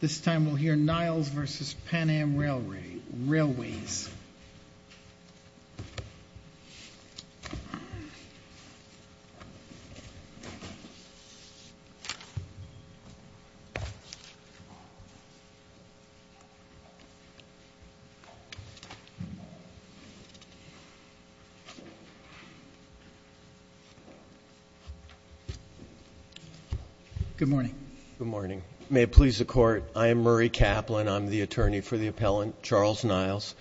This time we'll hear Niles v. Pan Am Railway, Railways. Good morning. May it please the Court, I am Murray Kaplan. I'm the attorney for the appellant, Charles Niles.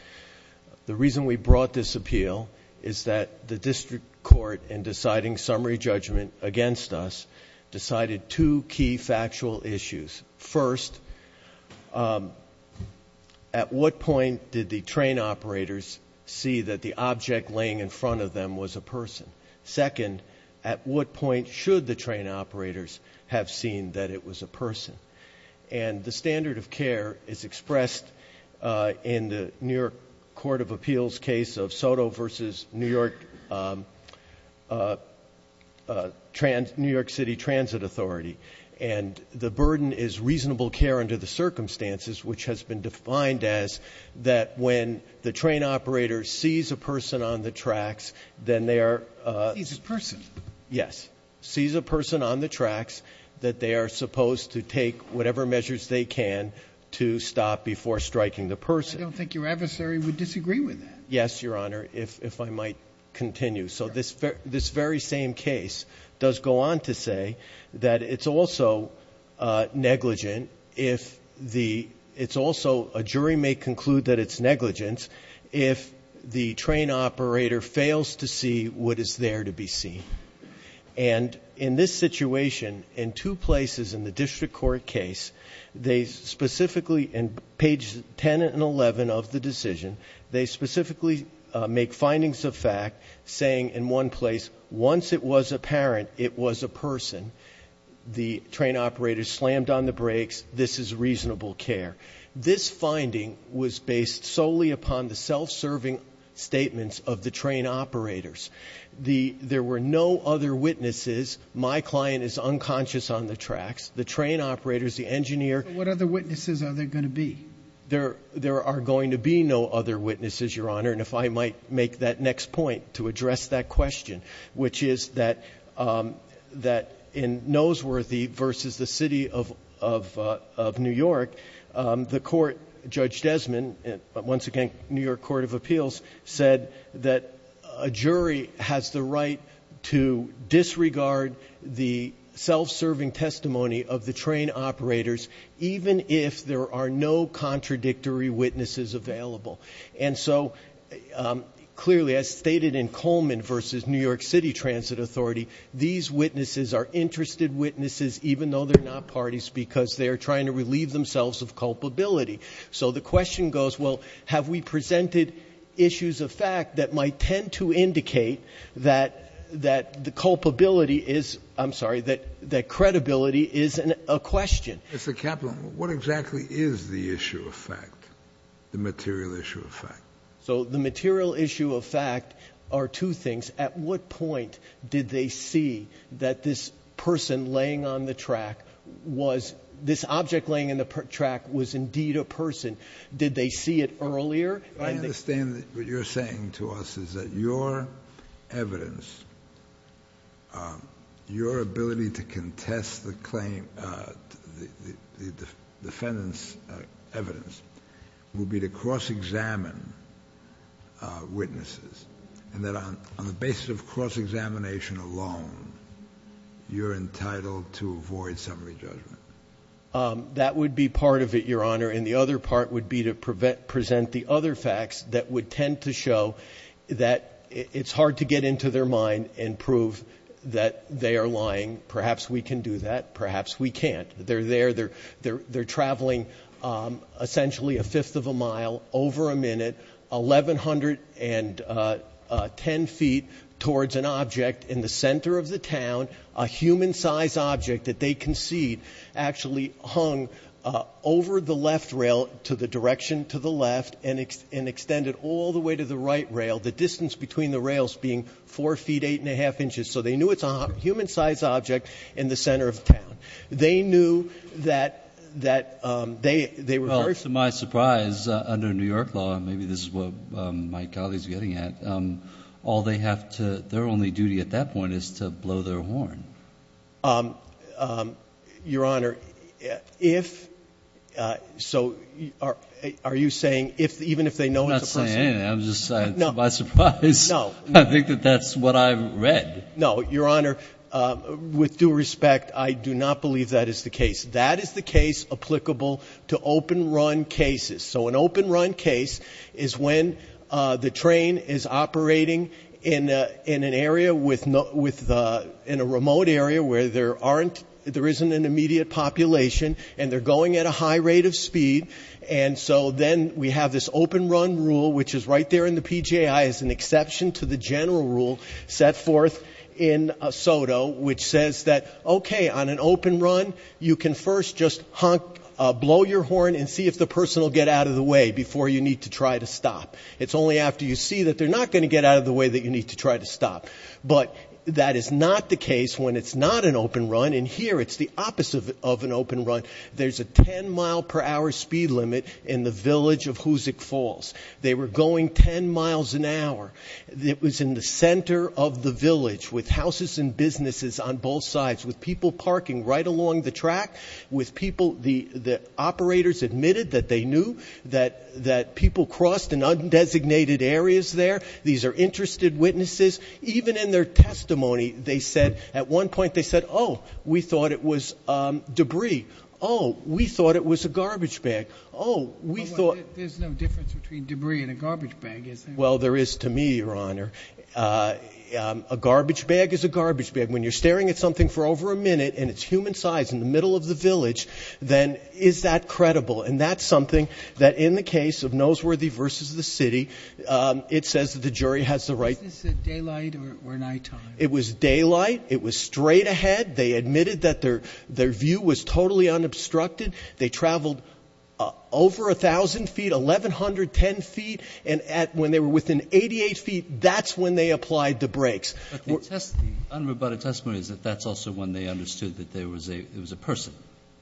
The reason we brought this appeal is that the district court, in deciding summary judgment against us, decided two key factual issues. First, at what point did the train operators see that the object laying in front of them was a person? Second, at what point should the train operators have seen that it was a person? And the standard of care is expressed in the New York Court of Appeals case of Soto v. New York City Transit Authority. And the burden is reasonable care under the circumstances, which has been defined as that when the train operator sees a person on the tracks, then they are... Sees a person? Yes. Sees a person on the tracks that they are supposed to take whatever measures they can to stop before striking the person. I don't think your adversary would disagree with that. Yes, Your Honor, if I might continue. So this very same case does go on to say that it's also negligent if the... what is there to be seen. And in this situation, in two places in the district court case, they specifically in pages 10 and 11 of the decision, they specifically make findings of fact saying in one place, once it was apparent it was a person, the train operator slammed on the brakes, this is reasonable care. This finding was based solely upon the self-serving statements of the train operators. There were no other witnesses. My client is unconscious on the tracks. The train operators, the engineer... What other witnesses are there going to be? There are going to be no other witnesses, Your Honor. And if I might make that next point to address that question, which is that in Noseworthy versus the City of New York, the court, Judge Desmond, once again, New York Court of Appeals, said that a jury has the right to disregard the self-serving testimony of the train operators even if there are no contradictory witnesses available. And so clearly, as stated in Coleman versus New York City Transit Authority, these witnesses are interested witnesses even though they're not parties because they're trying to relieve themselves of culpability. So the question goes, well, have we presented issues of fact that might tend to indicate that the culpability is – I'm sorry, that credibility is a question. Mr. Kaplan, what exactly is the issue of fact, the material issue of fact? So the material issue of fact are two things. At what point did they see that this person laying on the track was – this object laying on the track was indeed a person? Did they see it earlier? I understand that what you're saying to us is that your evidence, your ability to contest the defendant's evidence would be to cross-examine witnesses and that on the basis of cross-examination alone, you're entitled to avoid summary judgment. That would be part of it, Your Honor, and the other part would be to present the other facts that would tend to show that it's hard to get into their mind and prove that they are lying. Perhaps we can do that. Perhaps we can't. They're there. They're traveling essentially a fifth of a mile over a minute, 1,110 feet towards an object in the center of the town, a human-size object that they concede actually hung over the left rail to the direction to the left and extended all the way to the right rail, the distance between the rails being 4 feet, 8 1⁄2 inches. So they knew it's a human-size object in the center of town. They knew that they were – Well, to my surprise, under New York law, and maybe this is what my colleague is getting at, all they have to – their only duty at that point is to blow their horn. Your Honor, if – so are you saying even if they know it's a person? I'm not saying anything. I'm just – to my surprise, I think that that's what I've read. No. Your Honor, with due respect, I do not believe that is the case. That is the case applicable to open-run cases. So an open-run case is when the train is operating in an area with – in a remote area where there aren't – there isn't an immediate population, and they're going at a high rate of speed. And so then we have this open-run rule, which is right there in the PJI, as an exception to the general rule set forth in SOTO, which says that, okay, on an open run, you can first just honk, blow your horn, and see if the person will get out of the way before you need to try to stop. It's only after you see that they're not going to get out of the way that you need to try to stop. But that is not the case when it's not an open run. And here it's the opposite of an open run. There's a 10-mile-per-hour speed limit in the village of Hoosick Falls. They were going 10 miles an hour. It was in the center of the village with houses and businesses on both sides, with people parking right along the track, with people – the operators admitted that they knew that people crossed in undesignated areas there. These are interested witnesses. Even in their testimony, they said – at one point they said, oh, we thought it was debris. Oh, we thought it was a garbage bag. Oh, we thought – But there's no difference between debris and a garbage bag, is there? Well, there is to me, Your Honor. A garbage bag is a garbage bag. When you're staring at something for over a minute and it's human size in the middle of the village, then is that credible? And that's something that in the case of Noseworthy v. The City, it says that the jury has the right – Was this at daylight or nighttime? It was daylight. It was straight ahead. They admitted that their view was totally unobstructed. They traveled over 1,000 feet, 1,110 feet. And when they were within 88 feet, that's when they applied the brakes. But the unrebutted testimony is that that's also when they understood that there was a person.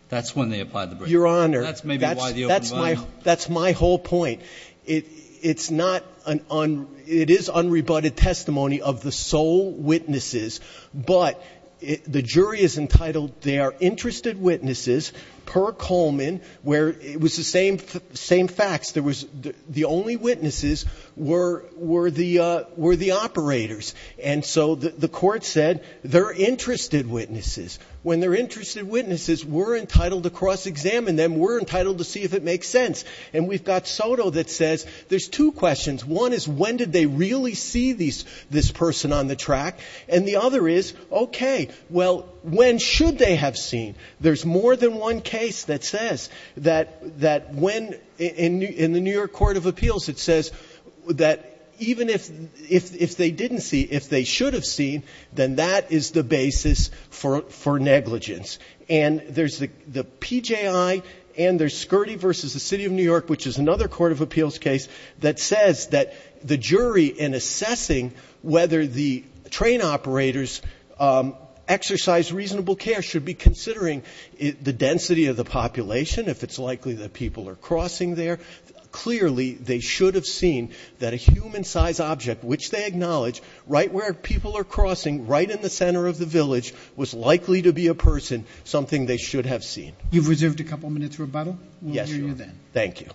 That's when they applied the brakes. Your Honor, that's my whole point. It's not – it is unrebutted testimony of the sole witnesses, but the jury is entitled they are interested witnesses per Coleman, where it was the same facts. The only witnesses were the operators. And so the court said they're interested witnesses. When they're interested witnesses, we're entitled to cross-examine them. We're entitled to see if it makes sense. And we've got Soto that says there's two questions. One is when did they really see this person on the track? And the other is, okay, well, when should they have seen? There's more than one case that says that when – in the New York Court of Appeals, it says that even if they didn't see, if they should have seen, then that is the basis for negligence. And there's the PJI and there's Scurdy v. The City of New York, which is another court of appeals case, that says that the jury in assessing whether the train operators exercise reasonable care should be considering the density of the population, if it's likely that people are crossing there. Clearly, they should have seen that a human-size object, which they acknowledge right where people are crossing, right in the center of the village, was likely to be a person, something they should have seen. Roberts. You've reserved a couple minutes for rebuttal. We'll hear you then. Thank you.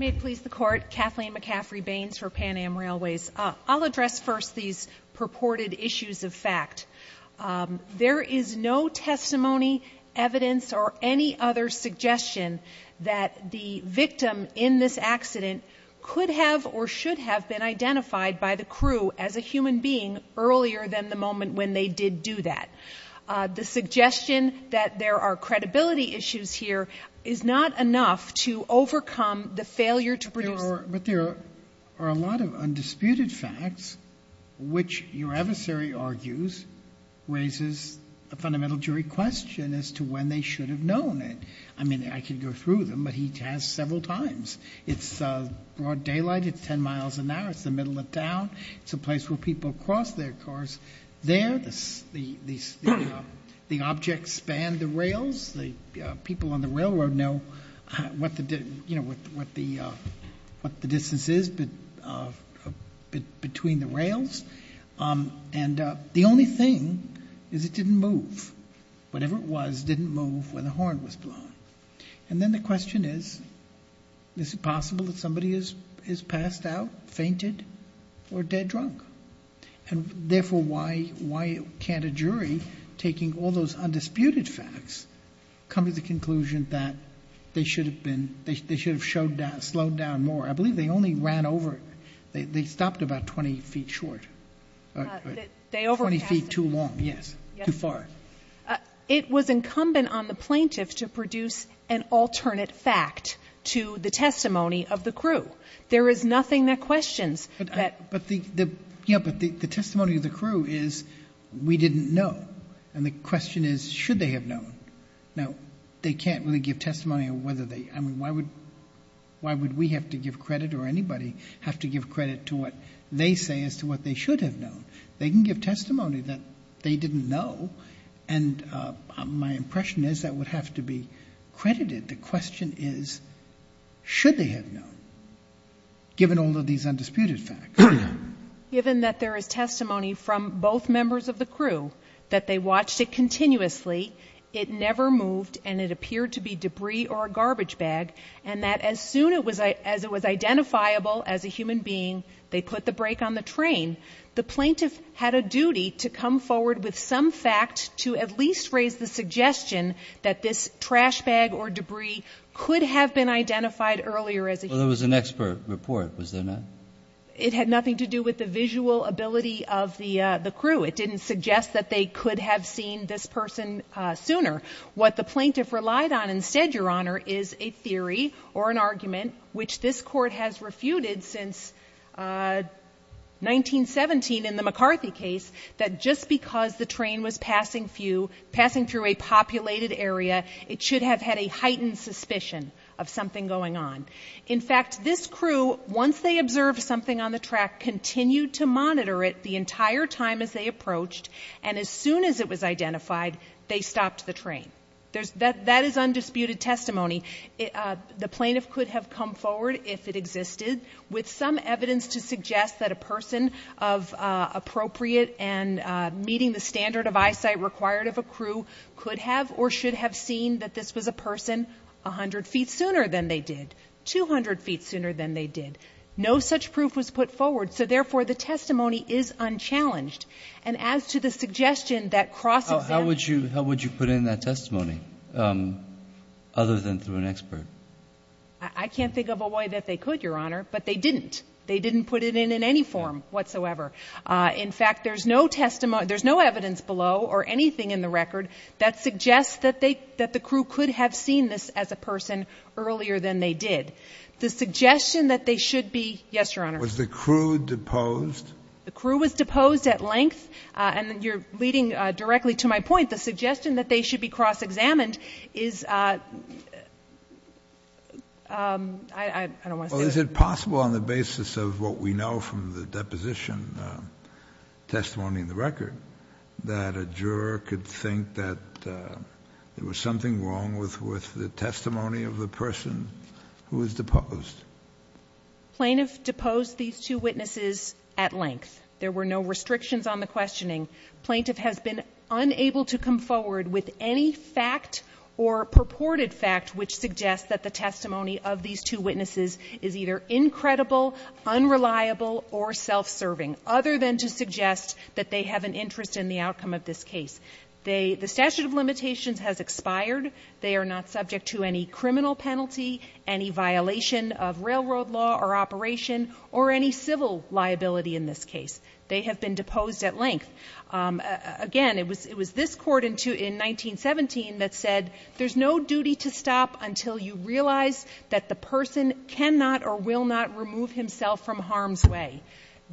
May it please the Court, Kathleen McCaffrey Baines for Pan Am Railways. I'll address first these purported issues of fact. There is no testimony, evidence, or any other suggestion that the victim in this accident could have or should have been identified by the crew as a human being earlier than the moment when they did do that. The suggestion that there are credibility issues here is not enough to overcome the failure to produce. But there are a lot of undisputed facts, which your adversary argues raises a fundamental jury question as to when they should have known it. I mean, I could go through them, but he has several times. It's broad daylight. It's 10 miles an hour. It's the middle of town. It's a place where people cross their cars. There, the objects span the rails. The people on the railroad know what the distance is between the rails. And the only thing is it didn't move. Whatever it was didn't move when the horn was blown. And then the question is, is it possible that somebody has passed out, fainted, or dead drunk? And therefore, why can't a jury, taking all those undisputed facts, come to the conclusion that they should have slowed down more? I believe they only ran over. They stopped about 20 feet short. 20 feet too long, yes, too far. It was incumbent on the plaintiff to produce an alternate fact to the testimony of the crew. There is nothing that questions that. But the testimony of the crew is, we didn't know. And the question is, should they have known? Now, they can't really give testimony on whether they – I mean, why would we have to give credit or anybody have to give credit to what they say as to what they should have known? They can give testimony that they didn't know, and my impression is that would have to be credited. The question is, should they have known, given all of these undisputed facts? Given that there is testimony from both members of the crew that they watched it continuously, it never moved, and it appeared to be debris or a garbage bag, and that as soon as it was identifiable as a human being, they put the brake on the train, the plaintiff had a duty to come forward with some fact to at least raise the suggestion that this trash bag or debris could have been identified earlier as a human being. Well, there was an expert report, was there not? It had nothing to do with the visual ability of the crew. It didn't suggest that they could have seen this person sooner. What the plaintiff relied on instead, Your Honor, is a theory or an argument, which this Court has refuted since 1917 in the McCarthy case, that just because the train was passing through a populated area, it should have had a heightened suspicion of something going on. In fact, this crew, once they observed something on the track, continued to monitor it the entire time as they approached, and as soon as it was identified, they stopped the train. That is undisputed testimony. The plaintiff could have come forward if it existed with some evidence to suggest that a person of appropriate and meeting the standard of eyesight required of a crew could have or should have seen that this was a person 100 feet sooner than they did, 200 feet sooner than they did. No such proof was put forward. So, therefore, the testimony is unchallenged. And as to the suggestion that cross-examination... How would you put in that testimony other than through an expert? I can't think of a way that they could, Your Honor, but they didn't. They didn't put it in in any form whatsoever. In fact, there's no testimony, there's no evidence below or anything in the record that suggests that the crew could have seen this as a person earlier than they did. The suggestion that they should be... Yes, Your Honor. Was the crew deposed? The crew was deposed at length, and you're leading directly to my point. The suggestion that they should be cross-examined is... I don't want to say... Is it possible on the basis of what we know from the deposition testimony in the record that a juror could think that there was something wrong with the testimony of the person who was deposed? Plaintiff deposed these two witnesses at length. There were no restrictions on the questioning. Plaintiff has been unable to come forward with any fact or purported fact which suggests that the testimony of these two witnesses is either incredible, unreliable, or self-serving, other than to suggest that they have an interest in the outcome of this case. The statute of limitations has expired. They are not subject to any criminal penalty, any violation of railroad law or operation, or any civil liability in this case. They have been deposed at length. Again, it was this court in 1917 that said, there's no duty to stop until you realize that the person cannot or will not remove himself from harm's way.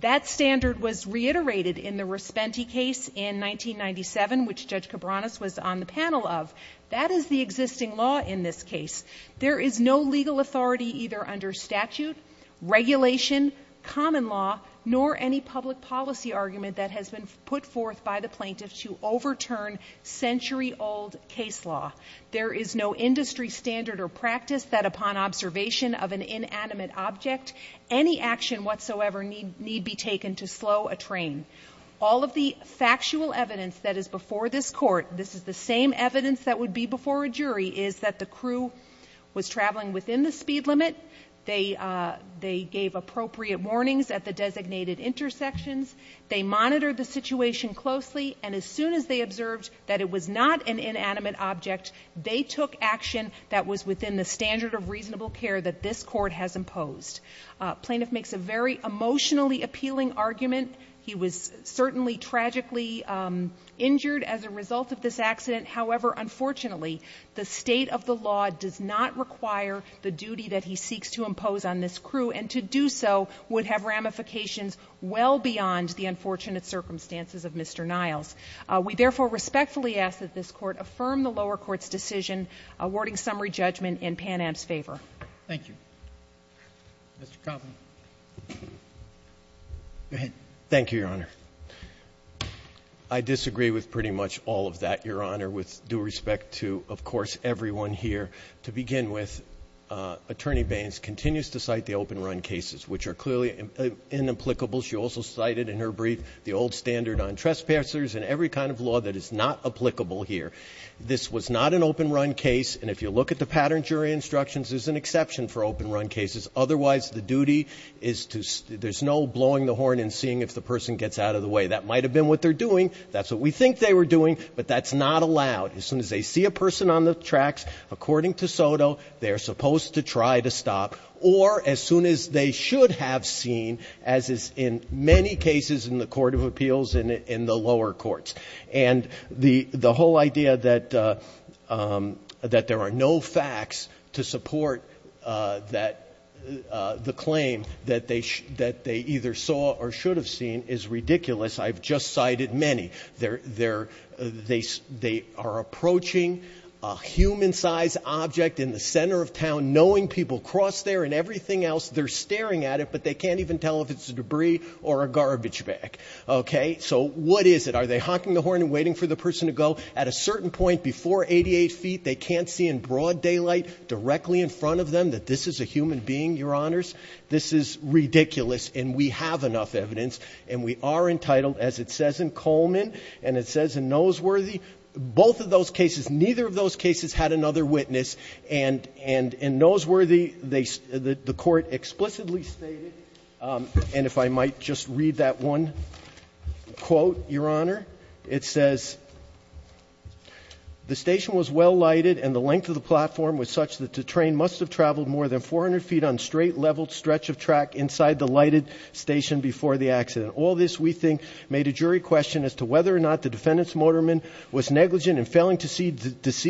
That standard was reiterated in the Respenti case in 1997, which Judge Cabranes was on the panel of. That is the existing law in this case. There is no legal authority either under statute, regulation, common law, nor any public policy argument that has been put forth by the plaintiff to overturn century-old case law. There is no industry standard or practice that upon observation of an inanimate object, any action whatsoever need be taken to slow a train. All of the factual evidence that is before this court, this is the same evidence that would be before a jury, is that the crew was traveling within the speed limit. They gave appropriate warnings at the designated intersections. They monitored the situation closely. And as soon as they observed that it was not an inanimate object, they took action that was within the standard of reasonable care that this court has imposed. Plaintiff makes a very emotionally appealing argument. He was certainly tragically injured as a result of this accident. However, unfortunately, the state of the law does not require the duty that he seeks to impose on this crew, and to do so would have ramifications well beyond the unfortunate circumstances of Mr. Niles. We therefore respectfully ask that this court affirm the lower court's decision awarding summary judgment in Pan Am's favor. Thank you. Mr. Koffman. Go ahead. Thank you, Your Honor. I disagree with pretty much all of that, Your Honor, with due respect to, of course, everyone here. To begin with, Attorney Baines continues to cite the open run cases, which are clearly inapplicable. She also cited in her brief the old standard on trespassers and every kind of law that is not applicable here. This was not an open run case, and if you look at the pattern jury instructions, there's an exception for open run cases. Otherwise, the duty is to, there's no blowing the horn and seeing if the person gets out of the way. That might have been what they're doing. That's what we think they were doing, but that's not allowed. As soon as they see a person on the tracks, according to SOTO, they are supposed to try to stop, or as soon as they should have seen, as is in many cases in the court of appeals in the lower courts. And the whole idea that there are no facts to support the claim that they either saw or should have seen is ridiculous. I've just cited many. They are approaching a human-sized object in the center of town, knowing people cross there and everything else. They're staring at it, but they can't even tell if it's debris or a garbage bag. Okay? So what is it? Are they honking the horn and waiting for the person to go? At a certain point before 88 feet, they can't see in broad daylight, directly in front of them, that this is a human being, Your Honors? This is ridiculous, and we have enough evidence, and we are entitled, as it says in Coleman and it says in Noseworthy, both of those cases, neither of those cases had another witness, and in Noseworthy, they, the court explicitly stated, and if I might just read that one quote, Your Honor, it says, The station was well lighted and the length of the platform was such that the train must have traveled more than 400 feet on straight level stretch of track inside the lighted station before the accident. All this, we think, made a jury question as to whether or not the defendant's motorman was negligent in failing to see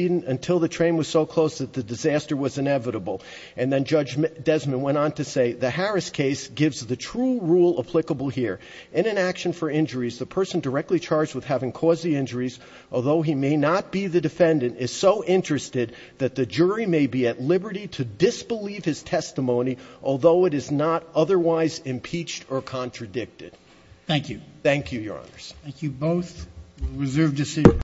until the train was so close that the disaster was inevitable. And then Judge Desmond went on to say, The Harris case gives the true rule applicable here. In an action for injuries, the person directly charged with having caused the injuries, although he may not be the defendant, is so interested that the jury may be at liberty to disbelieve his testimony, although it is not otherwise impeached or contradicted. Thank you. Thank you, Your Honors. Thank you both.